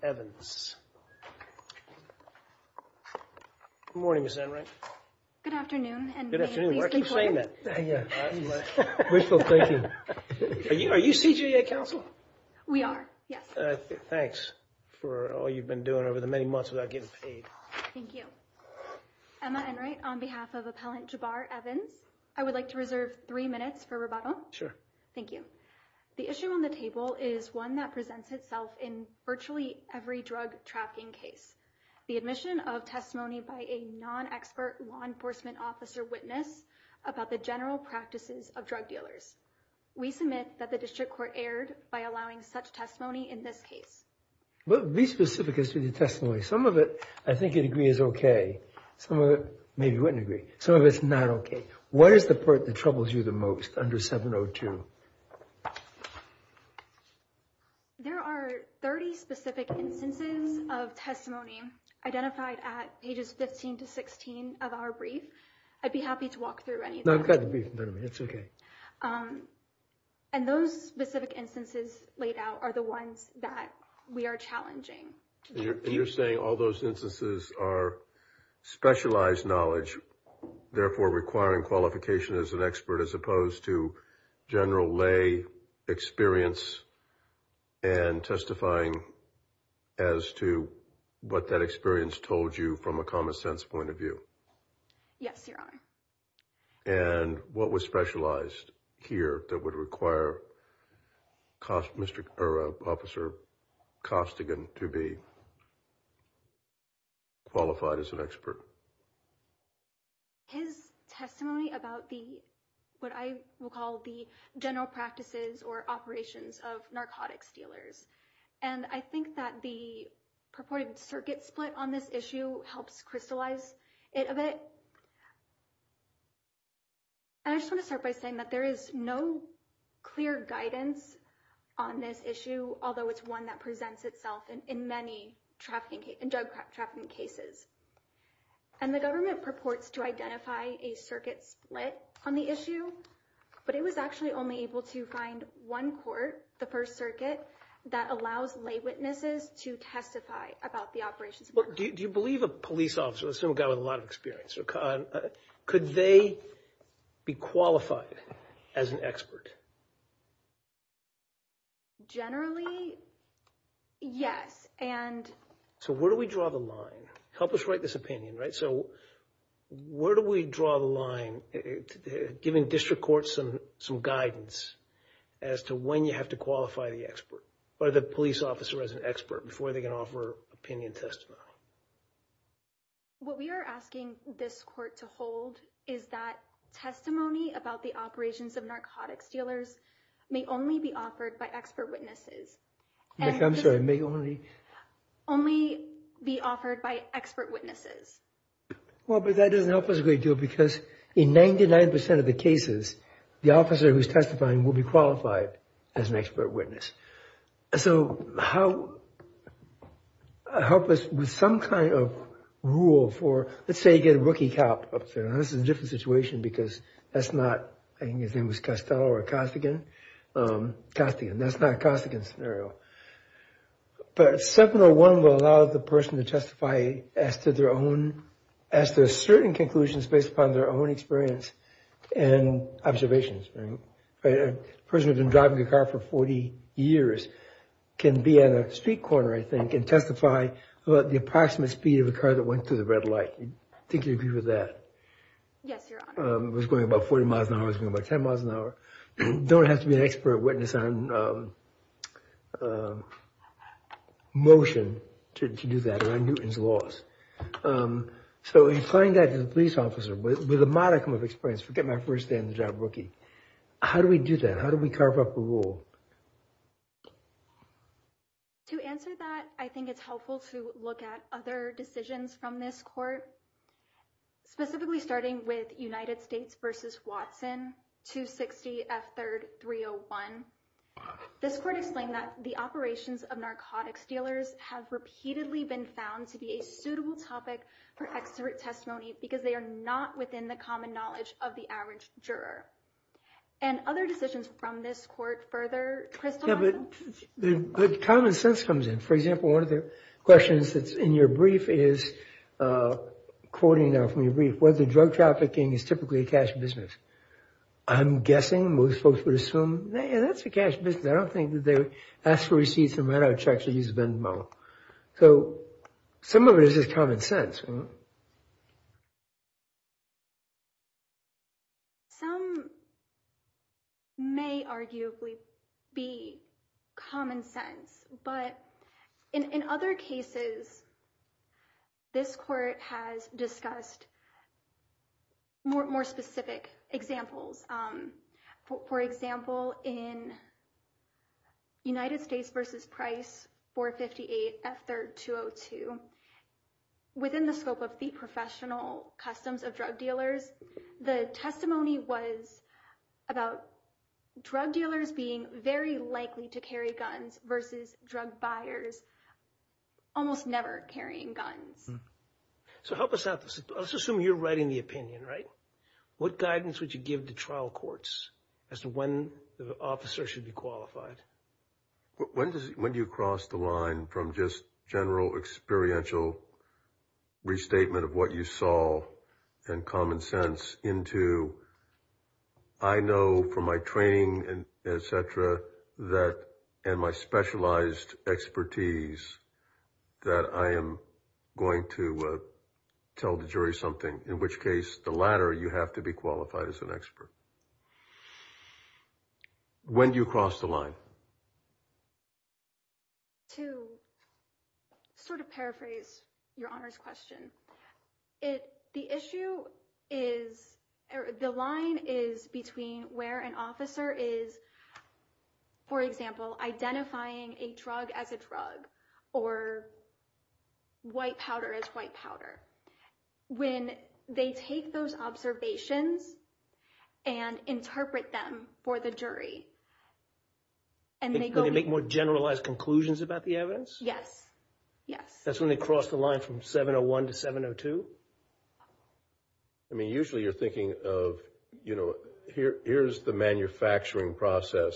Good morning, Ms. Enright. Good afternoon, and may it please the Court. Good afternoon. Why do you keep saying that? Wishful thinking. Are you CJA counsel? We are, yes. Thanks for all you've been doing over the many months without getting paid. Thank you. Emma Enright, on behalf of Appellant Jabbar-Evans, I would like to reserve three minutes for rebuttal. Sure. Thank you. The issue on the table is one that presents itself in virtually every way. We submit that the District Court erred by allowing such testimony in this case. But be specific as to the testimony. Some of it I think you'd agree is okay. Some of it maybe you wouldn't agree. Some of it's not okay. What is the part that troubles you the most under 702? There are 30 specific instances of testimony identified at pages 15 to 16 of our brief. I'd be happy to walk through any of them. No, go ahead. It's okay. And those specific instances laid out are the ones that we are challenging. And you're saying all those instances are specialized knowledge, therefore requiring qualification as an expert as opposed to general lay experience and testifying as to what that experience told you from a common sense point of view? Yes, Your Honor. And what was specialized here that would require Officer Costigan to be qualified as an expert? His testimony about what I would call the general practices or operations of narcotics dealers. And I think that the purported circuit split on this issue helps crystallize it a bit. And I just want to start by saying that there is no clear guidance on this issue, although it's one that presents itself in many drug trafficking cases. And the government purports to identify a circuit split on the issue, but it was actually only able to find one court, the First Circuit, that allows lay witnesses to testify about the operations. Do you believe a police officer, let's assume a guy with a lot of experience, could they be qualified as an expert? Generally, yes. So where do we draw the line? Help us write this opinion, right? So where do we draw the line, giving district courts some guidance as to when you have to qualify the expert, by the police officer as an expert, before they can offer opinion testimony? What we are asking this court to hold is that testimony about the operations of narcotics dealers may only be offered by expert witnesses. I'm sorry, may only? Only be offered by expert witnesses. Well, but that doesn't help us a great deal because in 99% of the cases, the officer who's testifying will be qualified as an expert witness. So help us with some kind of rule for, let's say you get a rookie cop up there, and this is a different situation because that's not, I think his name was Costello or Costigan. Costigan, that's not a Costigan scenario. But 701 will allow the person to testify as to their own, as to certain conclusions based upon their own experience and observations. A person who's been driving a car for 40 years can be at a street corner, I think, and testify about the approximate speed of a car that went through the red light. Do you agree with that? Yes, Your Honor. It was going about 40 miles an hour, it was going about 10 miles an hour. You don't have to be an expert witness on motion to do that around Newton's laws. So you're telling that to the police officer with a modicum of experience, forget my first day on the job, rookie. How do we do that? How do we carve up a rule? To answer that, I think it's helpful to look at other decisions from this court, specifically starting with United States v. Watson, 260 F. 3rd 301. This court explained that the operations of narcotics dealers have repeatedly been found to be a suitable topic for expert testimony because they are not within the common knowledge of the average juror. And other decisions from this court further crystallize that? Yeah, but common sense comes in. For example, one of the questions that's in your brief is, quoting now from your brief, whether drug trafficking is typically a cash business. I'm guessing most folks would assume, yeah, that's a cash business. I don't think that they would ask for receipts and write out checks or use a VIN number. So some of it is just common sense. Some may arguably be common sense. But in other cases, this court has discussed more specific examples. For example, in United States v. Price, 458 F. 3rd 202, within the scope of the professional customs of drug dealers, the testimony was about drug dealers being very likely to carry guns versus drug buyers almost never carrying guns. So help us out. Let's assume you're writing the opinion, right? What guidance would you give to trial courts as to when the officer should be qualified? When do you cross the line from just general experiential restatement of what you saw and common sense into, I know from my training, et cetera, and my specialized expertise that I am going to tell the jury something, in which case the latter, you have to be qualified as an expert. When do you cross the line? To sort of paraphrase your Honor's question, the issue is the line is between where an officer is, for example, identifying a drug as a drug or white powder as white powder. When they take those observations and interpret them for the jury and they go... They make more generalized conclusions about the evidence? Yes, yes. That's when they cross the line from 701 to 702? I mean, usually you're thinking of, you know, here's the manufacturing process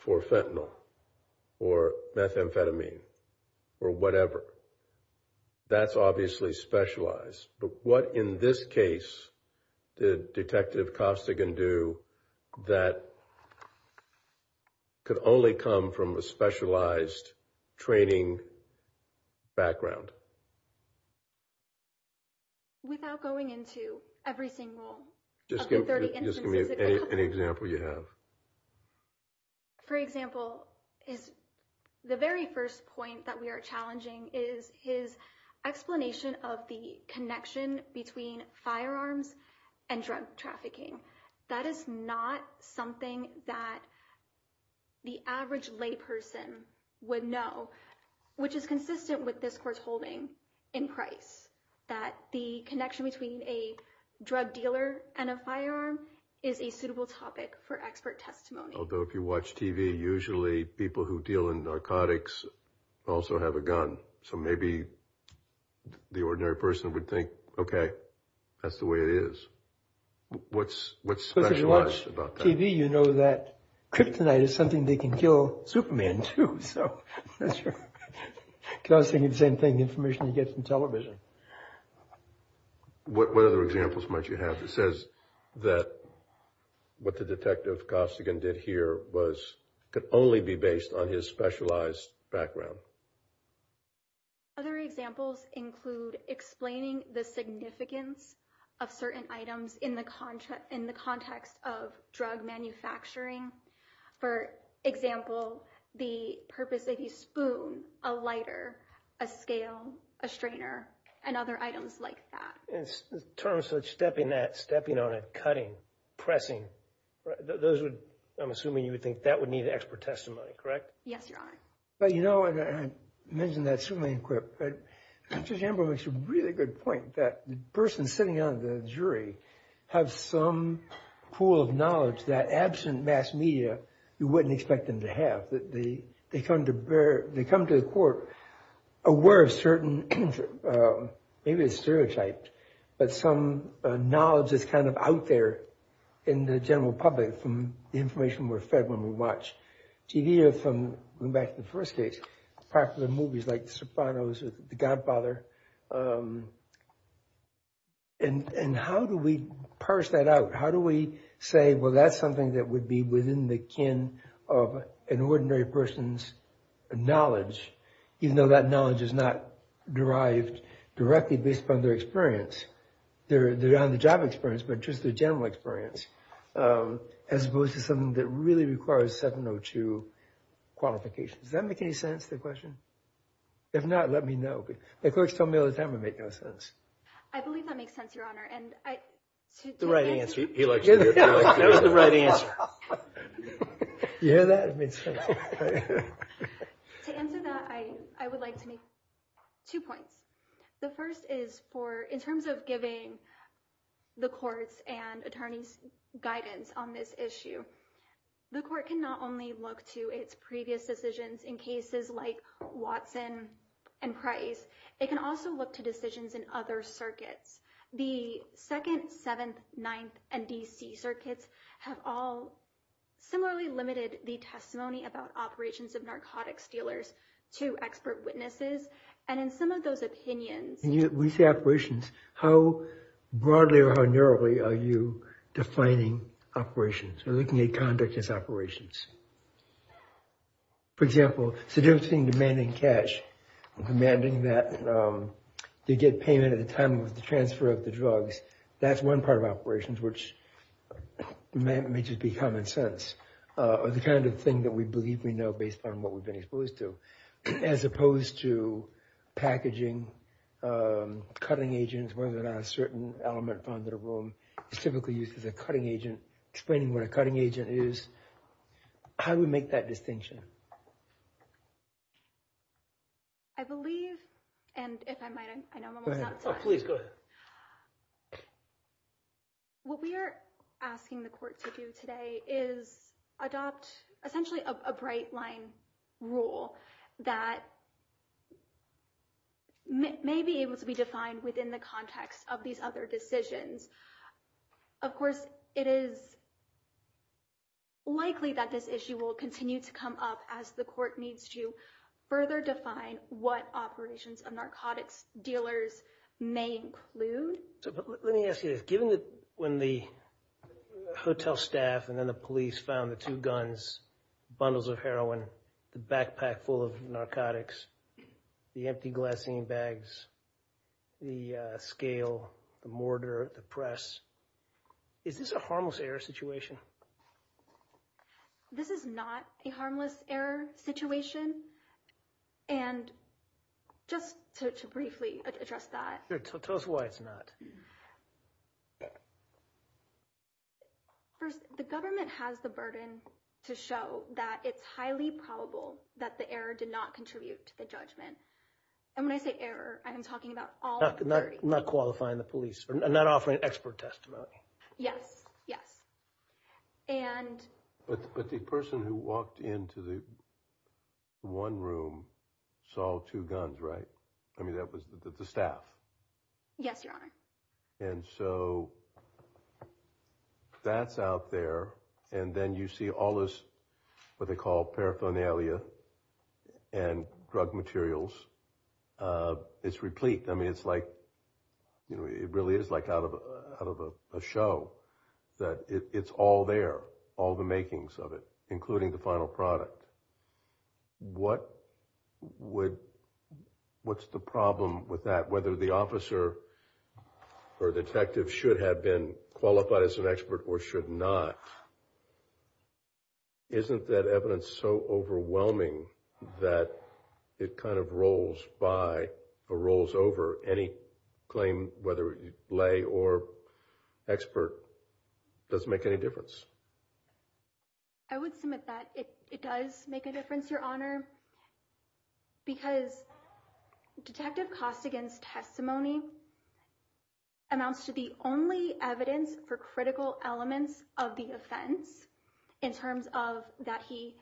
for fentanyl or methamphetamine or whatever. That's obviously specialized. But what, in this case, did Detective Costigan do that could only come from a specialized training background? Without going into every single of the 30 instances... Just give me any example you have. For example, the very first point that we are challenging is his explanation of the connection between firearms and drug trafficking. That is not something that the average layperson would know, which is consistent with this court's holding in Price, that the connection between a drug dealer and a firearm is a suitable topic for expert testimony. Although if you watch TV, usually people who deal in narcotics also have a gun. So maybe the ordinary person would think, OK, that's the way it is. What's specialized about that? If you watch TV, you know that kryptonite is something they can kill Superman too. I was thinking the same thing, the information you get from television. What other examples might you have that says that what the Detective Costigan did here could only be based on his specialized background? Other examples include explaining the significance of certain items in the context of drug manufacturing. For example, the purpose of a spoon, a lighter, a scale, a strainer, and other items like that. In terms of stepping on it, cutting, pressing, I'm assuming you would think that would need expert testimony, correct? Yes, Your Honor. I mentioned that swimming equip, but Judge Amber makes a really good point. The person sitting on the jury has some pool of knowledge that absent mass media, you wouldn't expect them to have. They come to the court aware of certain, maybe it's stereotyped, but some knowledge is kind of out there in the general public from the information we're fed when we watch TV. We hear from, going back to the first case, popular movies like The Sopranos or The Godfather, and how do we parse that out? How do we say, well that's something that would be within the kin of an ordinary person's knowledge, even though that knowledge is not derived directly based upon their experience. Their on-the-job experience, but just their general experience, as opposed to something that really requires 702 qualifications. Does that make any sense, the question? If not, let me know. The clerks tell me all the time it makes no sense. I believe that makes sense, Your Honor. The right answer. That was the right answer. You hear that? To answer that, I would like to make two points. The first is for, in terms of giving the courts and attorneys guidance on this issue, the court can not only look to its previous decisions in cases like Watson and Price, it can also look to decisions in other circuits. The 2nd, 7th, 9th, and DC circuits have all similarly limited the testimony about operations of narcotics dealers to expert witnesses, and in some of those opinions... When you say operations, how broadly or how narrowly are you defining operations, or looking at conduct as operations? For example, seducing, demanding cash, demanding that they get payment at the time of the transfer of the drugs, that's one part of operations, which may just be common sense, or the kind of thing that we believe we know based on what we've been exposed to. As opposed to packaging, cutting agents, whether or not a certain element found in a room is typically used as a cutting agent, explaining what a cutting agent is. How do we make that distinction? I believe, and if I might, I know I'm almost out of time. Please, go ahead. What we are asking the court to do today is adopt essentially a bright line rule that may be able to be defined within the context of these other decisions. Of course, it is likely that this issue will continue to come up as the court needs to further define what operations of narcotics dealers may include. Let me ask you this. Given that when the hotel staff and then the police found the two guns, bundles of heroin, the backpack full of narcotics, the empty glassine bags, the scale, the mortar, the press, is this a harmless error situation? This is not a harmless error situation. And just to briefly address that. Tell us why it's not. First, the government has the burden to show that it's highly probable that the error did not contribute to the judgment. And when I say error, I'm talking about all not qualifying the police and not offering expert testimony. Yes, yes. And but the person who walked into the one room saw two guns, right? I mean, that was the staff. Yes, your honor. And so that's out there. And then you see all this what they call paraphernalia and drug materials. It's replete. I mean, it's like, you know, it really is like out of out of a show that it's all there, all the makings of it, including the final product. What would what's the problem with that? Whether the officer or detective should have been qualified as an expert or should not. Isn't that evidence so overwhelming that it kind of rolls by or rolls over any claim, whether lay or expert? Doesn't make any difference. I would submit that it does make a difference, your honor. Because detective Costigan's testimony. Amounts to the only evidence for critical elements of the offense in terms of that he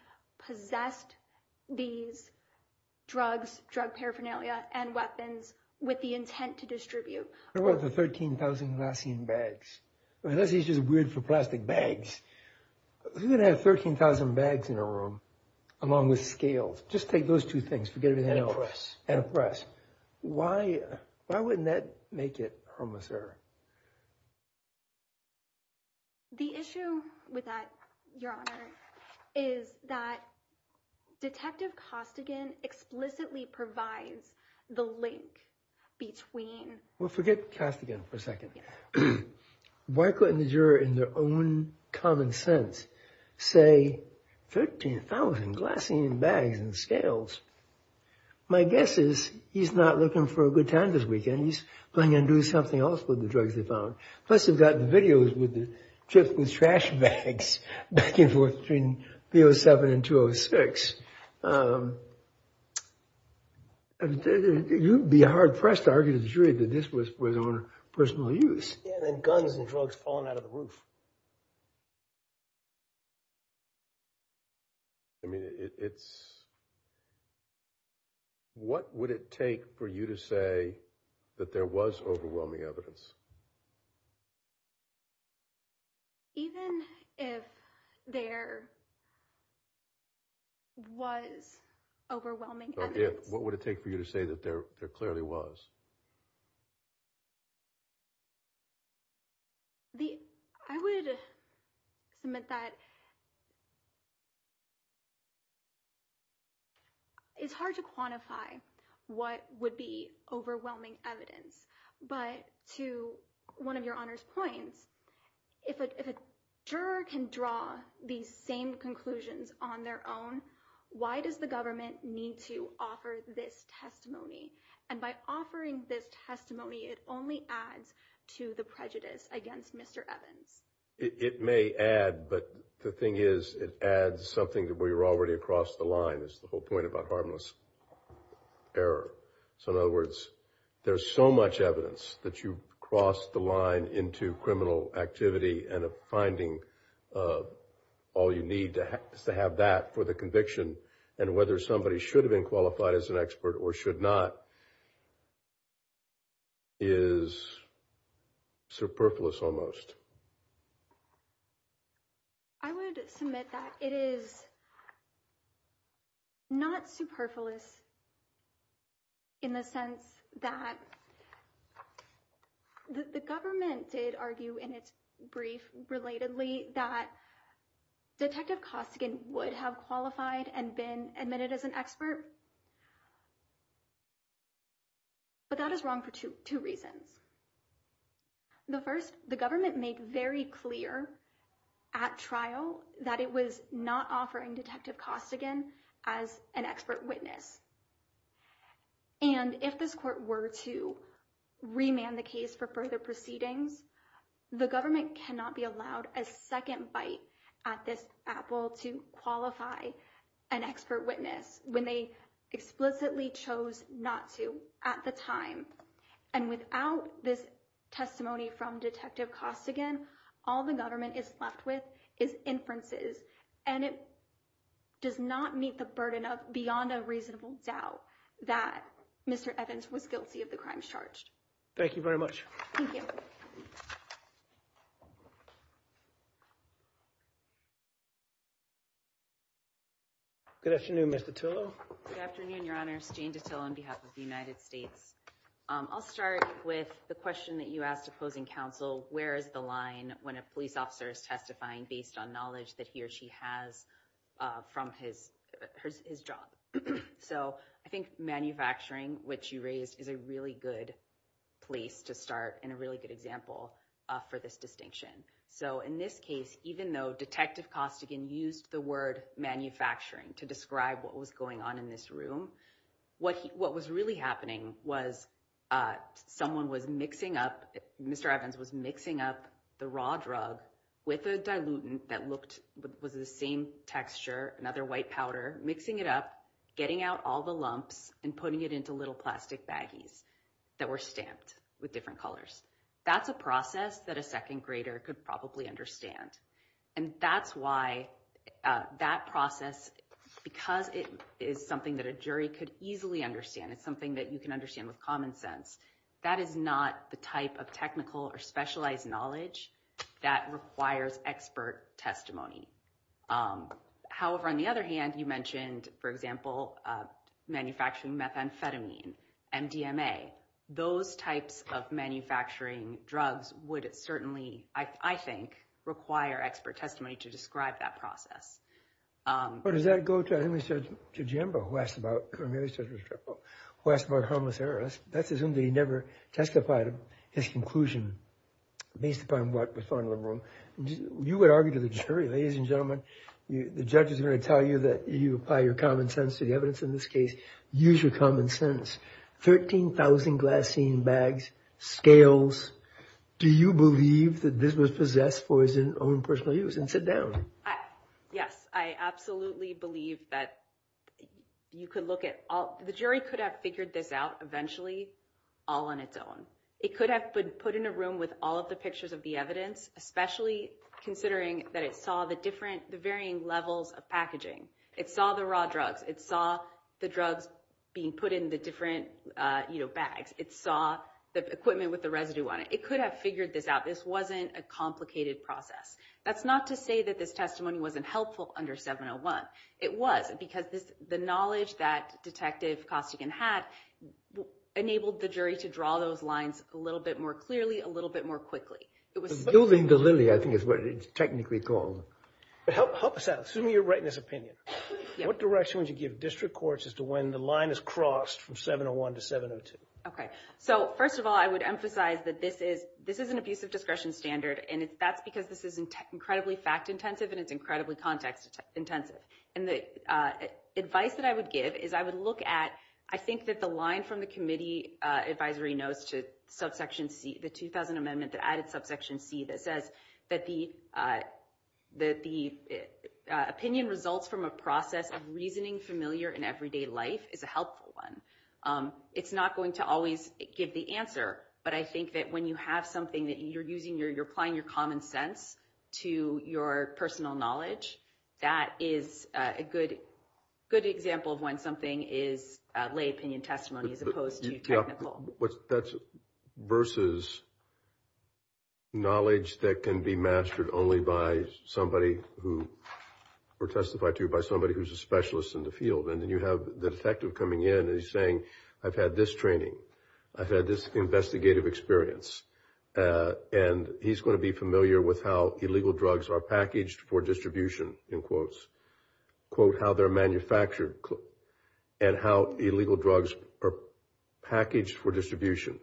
possessed these drugs, drug paraphernalia and weapons with the intent to distribute. What about the 13,000 glassine bags? Unless he's just weird for plastic bags. We're going to have 13,000 bags in a room along with scales. Just take those two things. Forget everything else. And a press. Why? Why wouldn't that make it homicidal? The issue with that, your honor, is that detective Costigan explicitly provides the link between. Well, forget Costigan for a second. Why couldn't the juror in their own common sense say 13,000 glassine bags and scales? My guess is he's not looking for a good time this weekend. He's going to do something else with the drugs they found. Plus, they've got the videos with the chips and trash bags back and forth between 07 and 206. You'd be hard pressed to argue to the jury that this was his own personal use. And guns and drugs falling out of the roof. I mean, it's. What would it take for you to say that there was overwhelming evidence? Even if there. Was overwhelming, what would it take for you to say that there clearly was? The I would submit that. It's hard to quantify what would be overwhelming evidence. But to one of your honors points, if a juror can draw these same conclusions on their own. Why does the government need to offer this testimony? And by offering this testimony, it only adds to the prejudice against Mr. Evans. It may add. But the thing is, it adds something that we were already across the line is the whole point about harmless error. So in other words, there's so much evidence that you crossed the line into criminal activity and finding. All you need to have is to have that for the conviction. And whether somebody should have been qualified as an expert or should not. Is. Superfluous, almost. I would submit that it is. Not superfluous. In the sense that. The government did argue in its brief relatedly that. Detective Costigan would have qualified and been admitted as an expert. But that is wrong for two reasons. The 1st, the government make very clear. At trial that it was not offering detective Costigan as an expert witness. And if this court were to. Remand the case for further proceedings. The government cannot be allowed a 2nd bite at this apple to qualify. An expert witness when they explicitly chose not to at the time. And without this testimony from detective Costigan, all the government is left with is inferences. And it. Does not meet the burden of beyond a reasonable doubt that Mr. Evans was guilty of the crimes charged. Thank you very much. Thank you. Good afternoon, Mr. Tillow. Good afternoon. Your honors Jane to tell on behalf of the United States. I'll start with the question that you asked opposing counsel. Where is the line when a police officer is testifying based on knowledge that he or she has. From his his job. So, I think manufacturing, which you raised is a really good. Place to start in a really good example for this distinction. So, in this case, even though detective Costigan used the word manufacturing to describe what was going on in this room. What what was really happening was. Someone was mixing up Mr. Evans was mixing up the raw drug. With a dilutant that looked was the same texture another white powder mixing it up. Getting out all the lumps and putting it into little plastic baggies. That were stamped with different colors. That's a process that a 2nd grader could probably understand. And that's why that process, because it is something that a jury could easily understand. It's something that you can understand with common sense. That is not the type of technical or specialized knowledge that requires expert testimony. However, on the other hand, you mentioned, for example, manufacturing methamphetamine. MDMA, those types of manufacturing drugs would certainly, I think, require expert testimony to describe that process. But does that go to? I think we said to Jim West about who asked about harmless errors. That's as soon as he never testified his conclusion. Based upon what was on the room, you would argue to the jury. Ladies and gentlemen, the judge is going to tell you that you apply your common sense to the evidence in this case. Use your common sense. 13,000 glassine bags, scales. Do you believe that this was possessed for its own personal use? And sit down. Yes, I absolutely believe that you could look at all. The jury could have figured this out eventually all on its own. It could have been put in a room with all of the pictures of the evidence. Especially considering that it saw the different, the varying levels of packaging. It saw the raw drugs. It saw the drugs being put in the different bags. It saw the equipment with the residue on it. It could have figured this out. This wasn't a complicated process. That's not to say that this testimony wasn't helpful under 701. It was because the knowledge that Detective Costigan had enabled the jury to draw those lines a little bit more clearly, a little bit more quickly. Building the lily, I think, is what it's technically called. Help us out. Assuming you're right in this opinion. What direction would you give district courts as to when the line is crossed from 701 to 702? Okay. So, first of all, I would emphasize that this is an abusive discretion standard. And that's because this is incredibly fact-intensive and it's incredibly context-intensive. And the advice that I would give is I would look at, I think, that the line from the committee advisory notes to subsection C, the 2000 amendment, the added subsection C that says that the opinion results from a process of reasoning familiar in everyday life is a helpful one. It's not going to always give the answer. But I think that when you have something that you're using, you're applying your common sense to your personal knowledge, that is a good example of when something is lay opinion testimony as opposed to technical. That's versus knowledge that can be mastered only by somebody who, or testified to by somebody who's a specialist in the field. And then you have the detective coming in and he's saying, I've had this training. I've had this investigative experience. And he's going to be familiar with how illegal drugs are packaged for distribution, in quotes. Quote how they're manufactured and how illegal drugs are packaged for distribution.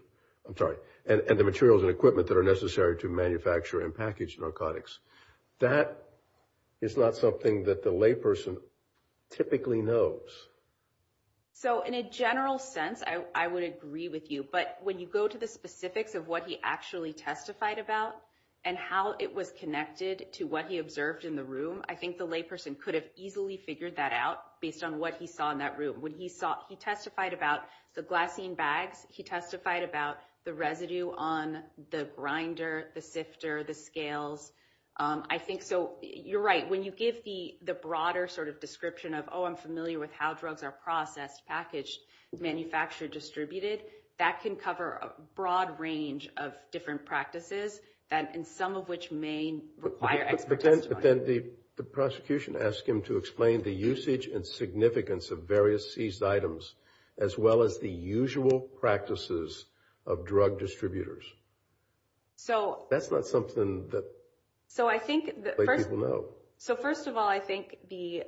And the materials and equipment that are necessary to manufacture and package narcotics. That is not something that the layperson typically knows. So in a general sense, I would agree with you. But when you go to the specifics of what he actually testified about and how it was connected to what he observed in the room, I think the layperson could have easily figured that out based on what he saw in that room. When he saw, he testified about the glassine bags. He testified about the residue on the grinder, the sifter, the scales. I think so. You're right. When you give the broader sort of description of, oh, I'm familiar with how drugs are processed, packaged, manufactured, distributed, that can cover a broad range of different practices, and some of which may require expert testimony. But then the prosecution asked him to explain the usage and significance of various seized items, as well as the usual practices of drug distributors. That's not something that people know. So first of all, I think the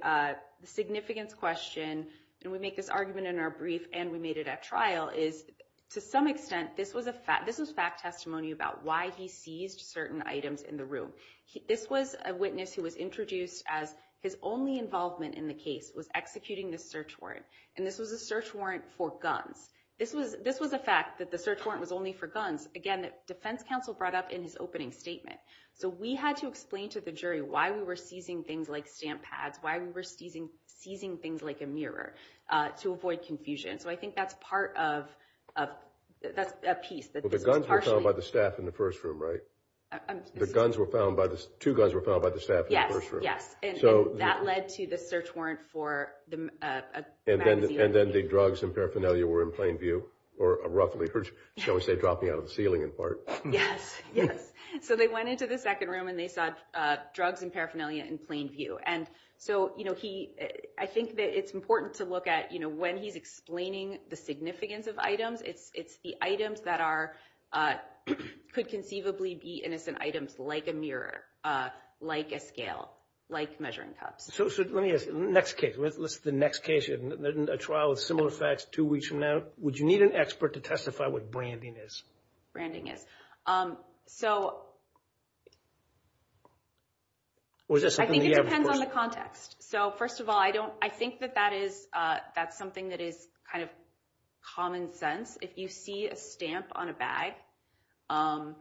significance question, and we make this argument in our brief and we made it at trial, is to some extent, this was fact testimony about why he seized certain items in the room. This was a witness who was introduced as his only involvement in the case was executing the search warrant. And this was a search warrant for guns. This was a fact that the search warrant was only for guns. Again, the defense counsel brought up in his opening statement. So we had to explain to the jury why we were seizing things like stamp pads, why we were seizing things like a mirror, to avoid confusion. So I think that's part of a piece. The guns were found by the staff in the first room, right? Two guns were found by the staff in the first room. Yes, yes. And that led to the search warrant for a magazine. And then the drugs and paraphernalia were in plain view, or roughly. Shall we say dropping out of the ceiling in part? Yes, yes. So they went into the second room and they saw drugs and paraphernalia in plain view. And so I think that it's important to look at when he's explaining the significance of items, it's the items that could conceivably be innocent items, like a mirror, like a scale, like measuring cups. So let me ask, the next case, a trial of similar facts two weeks from now, would you need an expert to testify what branding is? Branding is. So I think it depends on the context. So first of all, I think that that's something that is kind of common sense. If you see a stamp on a bag, and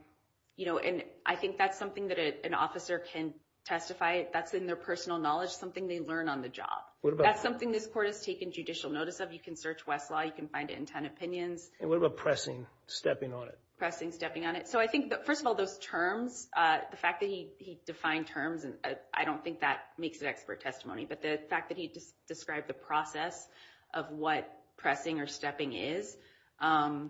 I think that's something that an officer can testify, that's in their personal knowledge, something they learn on the job. That's something this court has taken judicial notice of. You can search Westlaw. You can find it in Ten Opinions. And what about pressing, stepping on it? Pressing, stepping on it. So I think, first of all, those terms, the fact that he defined terms, I don't think that makes it expert testimony. But the fact that he described the process of what pressing or stepping is, in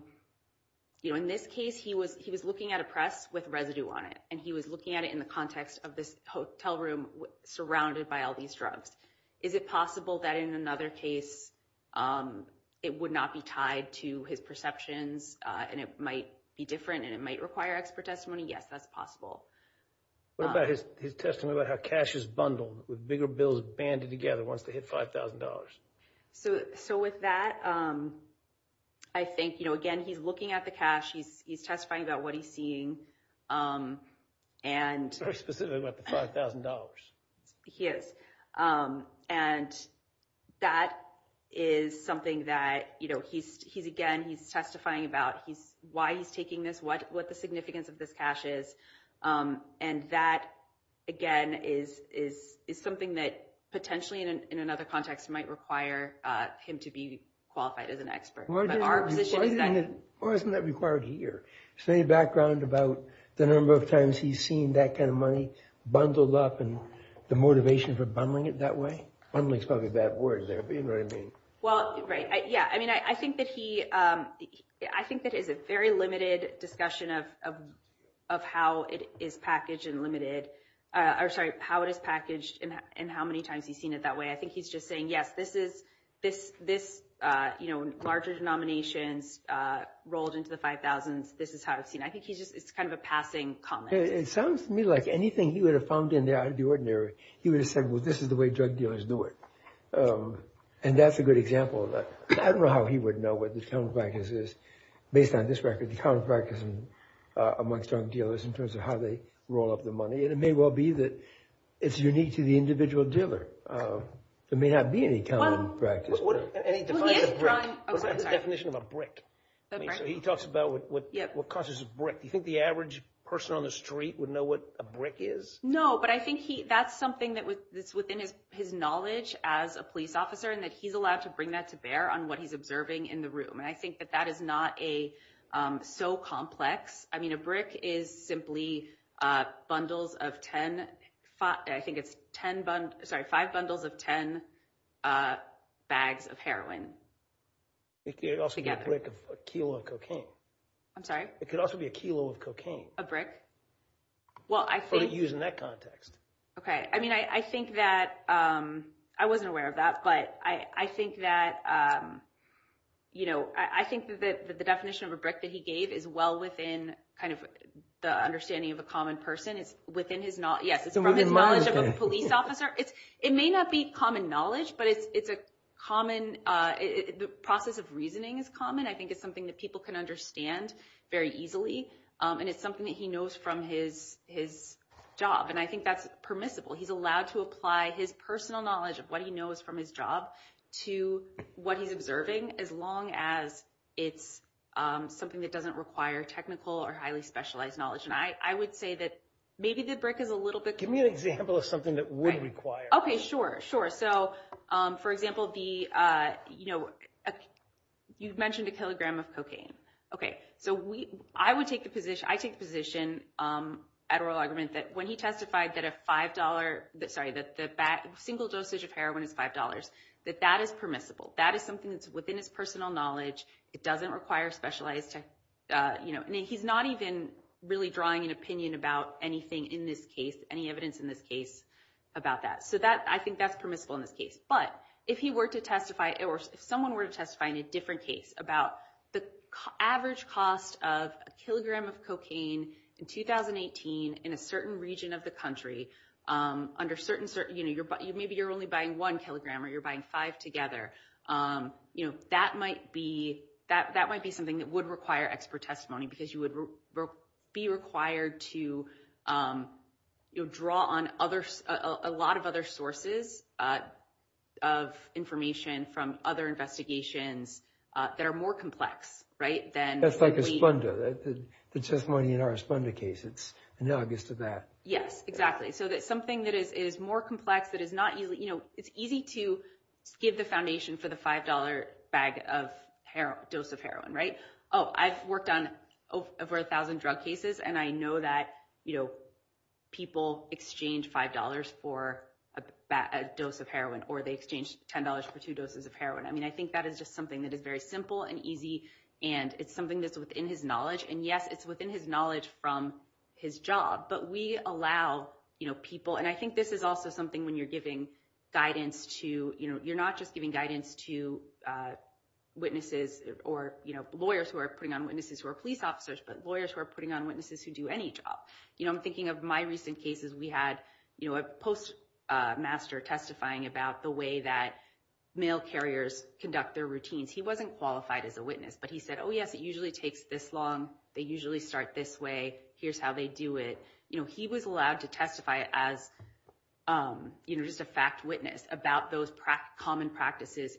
this case he was looking at a press with residue on it, and he was looking at it in the context of this hotel room surrounded by all these drugs. Is it possible that in another case it would not be tied to his perceptions, and it might be different, and it might require expert testimony? Yes, that's possible. What about his testimony about how cash is bundled, with bigger bills banded together once they hit $5,000? So with that, I think, again, he's looking at the cash. He's testifying about what he's seeing. Very specific about the $5,000. He is. And that is something that, again, he's testifying about why he's taking this, what the significance of this cash is, and that, again, is something that potentially in another context might require him to be qualified as an expert. Why isn't that required here? Is there any background about the number of times he's seen that kind of money bundled up and the motivation for bundling it that way? Bundling is probably a bad word there, but you know what I mean. Well, right. Yeah, I mean, I think that he – I think that is a very limited discussion of how it is packaged and limited – or, sorry, how it is packaged and how many times he's seen it that way. I think he's just saying, yes, this is – this, you know, larger denominations rolled into the $5,000s. This is how it's seen. I think he's just – it's kind of a passing comment. It sounds to me like anything he would have found in there out of the ordinary, he would have said, well, this is the way drug dealers do it. And that's a good example of that. I don't know how he would know what the counterpractice is. Based on this record, the counterpractice amongst drug dealers in terms of how they roll up the money, and it may well be that it's unique to the individual dealer. There may not be any counterpractice. And he defines a brick. Well, he is drawing – That's the definition of a brick. So he talks about what causes a brick. Do you think the average person on the street would know what a brick is? No, but I think that's something that's within his knowledge as a police officer and that he's allowed to bring that to bear on what he's observing in the room. And I think that that is not so complex. I mean, a brick is simply bundles of 10 – I think it's 10 – sorry, five bundles of 10 bags of heroin. It could also be a brick of a kilo of cocaine. I'm sorry? It could also be a kilo of cocaine. A brick? Well, I think – Or to use in that context. Okay. I mean, I think that – I wasn't aware of that. But I think that, you know, I think that the definition of a brick that he gave is well within kind of the understanding of a common person. It's within his – yes, it's from his knowledge of a police officer. It may not be common knowledge, but it's a common – the process of reasoning is common. I think it's something that people can understand very easily, and it's something that he knows from his job, and I think that's permissible. He's allowed to apply his personal knowledge of what he knows from his job to what he's observing as long as it's something that doesn't require technical or highly specialized knowledge. And I would say that maybe the brick is a little bit – Give me an example of something that would require – Okay, sure, sure. So, for example, the – you know, you've mentioned a kilogram of cocaine. Okay, so I would take the position – I take the position at Royal Argument that when he testified that a $5 – sorry, that the single dosage of heroin is $5, that that is permissible. That is something that's within his personal knowledge. It doesn't require specialized – you know, he's not even really drawing an opinion about anything in this case, any evidence in this case about that. So that – I think that's permissible in this case. But if he were to testify – or if someone were to testify in a different case about the average cost of a kilogram of cocaine in 2018 in a certain region of the country under certain – you know, maybe you're only buying one kilogram or you're buying five together. You know, that might be – that might be something that would require expert testimony because you would be required to draw on a lot of other sources of information from other investigations that are more complex, right, than – That's like Esponda, the testimony in our Esponda case. It's analogous to that. Yes, exactly. So that's something that is more complex, that is not – you know, it's easy to give the foundation for the $5 bag of – dose of heroin, right? Oh, I've worked on over a thousand drug cases, and I know that, you know, people exchange $5 for a dose of heroin or they exchange $10 for two doses of heroin. I mean, I think that is just something that is very simple and easy, and it's something that's within his knowledge. And yes, it's within his knowledge from his job, but we allow, you know, people – and I think this is also something when you're giving guidance to – you know, you're not just giving guidance to witnesses or, you know, lawyers who are putting on witnesses who are police officers, but lawyers who are putting on witnesses who do any job. You know, I'm thinking of my recent cases. We had, you know, a postmaster testifying about the way that male carriers conduct their routines. He wasn't qualified as a witness, but he said, oh, yes, it usually takes this long. They usually start this way. Here's how they do it. You know, he was allowed to testify as, you know, just a fact witness about those common practices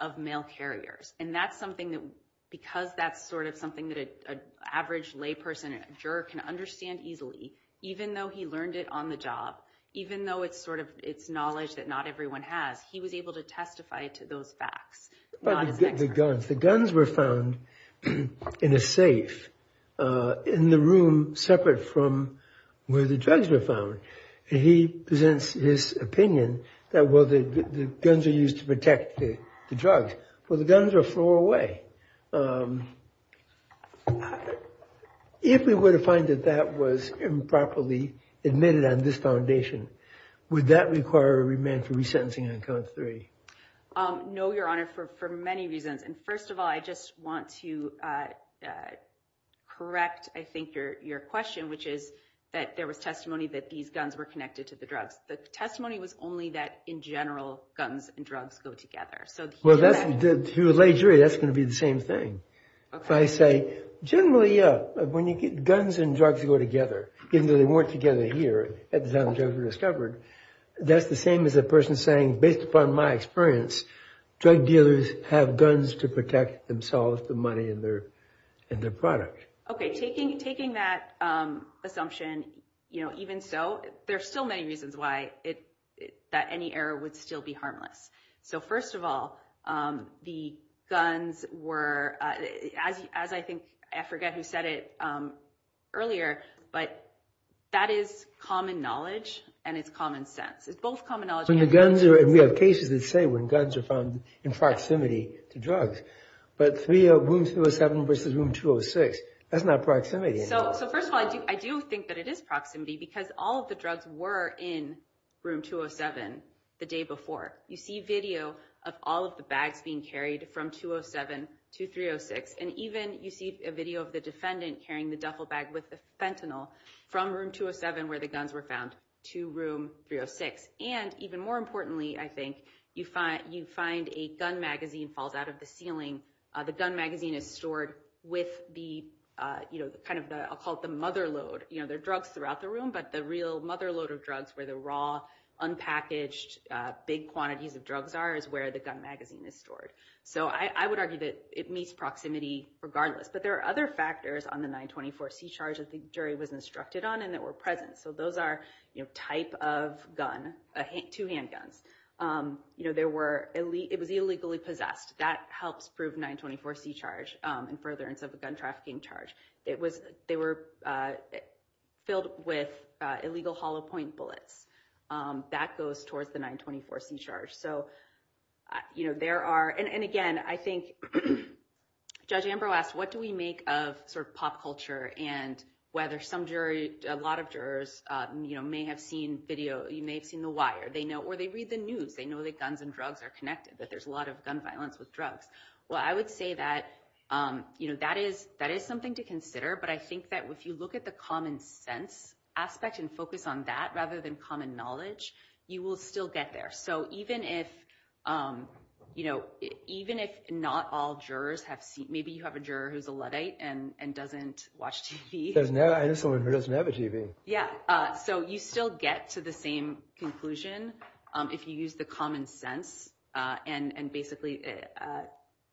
of male carriers, and that's something that – because that's sort of something that an average layperson and a juror can understand easily, even though he learned it on the job, even though it's sort of – it's knowledge that not everyone has. He was able to testify to those facts, not as an expert. The guns. The guns were found in a safe in the room separate from where the drugs were found, and he presents his opinion that, well, the guns are used to protect the drugs. Well, the guns are a floor away. If we were to find that that was improperly admitted on this foundation, would that require a remand for resentencing on count three? No, Your Honor, for many reasons. And first of all, I just want to correct, I think, your question, which is that there was testimony that these guns were connected to the drugs. The testimony was only that, in general, guns and drugs go together. Well, to a lay jury, that's going to be the same thing. If I say, generally, yeah, when you get guns and drugs go together, even though they weren't together here at the time the drugs were discovered, that's the same as a person saying, based upon my experience, drug dealers have guns to protect themselves, the money, and their product. Okay. Taking that assumption, you know, even so, there are still many reasons why that any error would still be harmless. So, first of all, the guns were, as I think, I forget who said it earlier, but that is common knowledge and it's common sense. It's both common knowledge and common sense. We have cases that say when guns are found in proximity to drugs. But room 207 versus room 206, that's not proximity anymore. So, first of all, I do think that it is proximity because all of the drugs were in room 207 the day before. You see video of all of the bags being carried from 207 to 306, and even you see a video of the defendant carrying the duffel bag with the fentanyl from room 207 where the guns were found to room 306. And even more importantly, I think, you find a gun magazine falls out of the ceiling. The gun magazine is stored with the, you know, kind of the, I'll call it the mother load. You know, there are drugs throughout the room, but the real mother load of drugs where the raw, unpackaged, big quantities of drugs are is where the gun magazine is stored. So I would argue that it meets proximity regardless. But there are other factors on the 924C charge that the jury was instructed on and that were present. So those are, you know, type of gun, two handguns. You know, it was illegally possessed. That helps prove 924C charge in furtherance of a gun trafficking charge. They were filled with illegal hollow point bullets. That goes towards the 924C charge. So, you know, there are, and again, I think Judge Ambrose asked, what do we make of sort of pop culture and whether some jury, a lot of jurors, you know, may have seen video, you may have seen The Wire. They know, or they read the news. They know that guns and drugs are connected, that there's a lot of gun violence with drugs. Well, I would say that, you know, that is something to consider. But I think that if you look at the common sense aspect and focus on that rather than common knowledge, you will still get there. So even if, you know, even if not all jurors have seen, maybe you have a juror who's a Luddite and doesn't watch TV. I know someone who doesn't have a TV. Yeah, so you still get to the same conclusion if you use the common sense and basically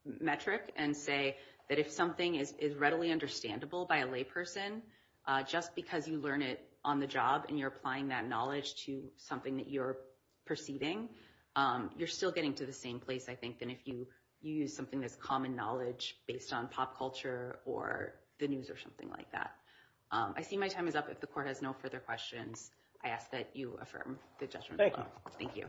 metric and say that if something is readily understandable by a layperson, just because you learn it on the job and you're applying that knowledge to something that you're proceeding, you're still getting to the same place, I think, than if you use something that's common knowledge based on pop culture or the news or something like that. I see my time is up. If the Court has no further questions, I ask that you affirm the judgment. Thank you. Thank you.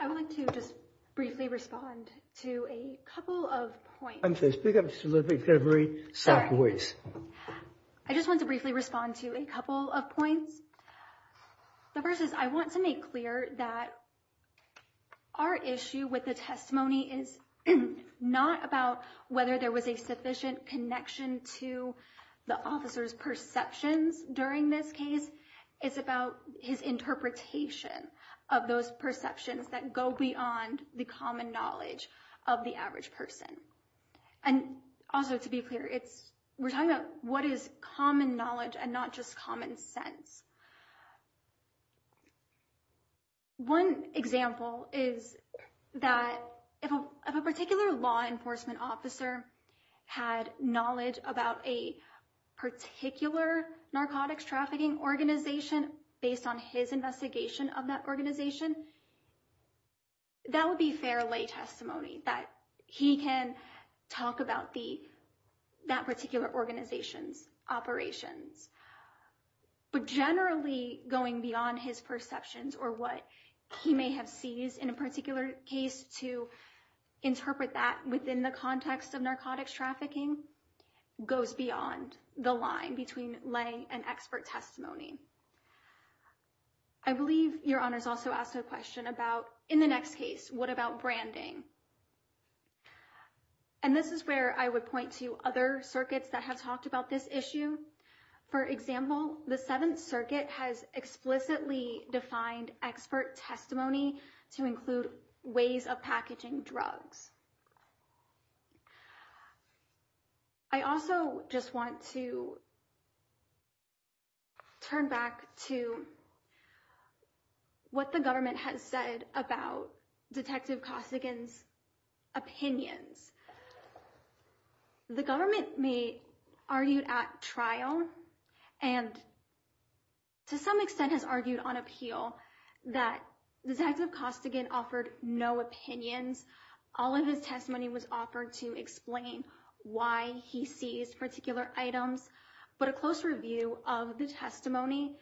I would like to just briefly respond to a couple of points. I'm sorry, speak up just a little bit. You've got to be very soft voice. I just want to briefly respond to a couple of points. The first is I want to make clear that our issue with the testimony is not about whether there was a sufficient connection to the officer's perceptions during this case. It's about his interpretation of those perceptions that go beyond the common knowledge of the average person. Also, to be clear, we're talking about what is common knowledge and not just common sense. One example is that if a particular law enforcement officer had knowledge about a particular narcotics trafficking organization based on his investigation of that organization, that would be fair lay testimony, that he can talk about that particular organization's operations. But generally, going beyond his perceptions or what he may have seized in a particular case to interpret that within the context of narcotics trafficking goes beyond the line between lay and expert testimony. I believe Your Honors also asked a question about, in the next case, what about branding? And this is where I would point to other circuits that have talked about this issue. For example, the Seventh Circuit has explicitly defined expert testimony to include ways of packaging drugs. I also just want to turn back to what the government has said about Detective Kosigan's opinions. The government may argue at trial and to some extent has argued on appeal that Detective Kosigan offered no opinions. All of his testimony was offered to explain why he seized particular items, but a close review of the testimony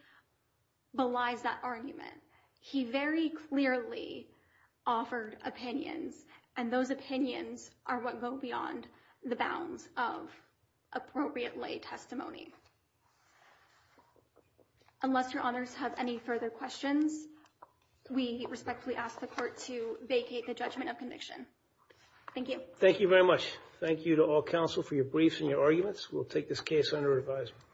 belies that argument. He very clearly offered opinions, and those opinions are what go beyond the bounds of appropriate lay testimony. Unless Your Honors have any further questions, we respectfully ask the Court to vacate the judgment of conviction. Thank you. Thank you very much. Thank you to all counsel for your briefs and your arguments. We'll take this case under revisal.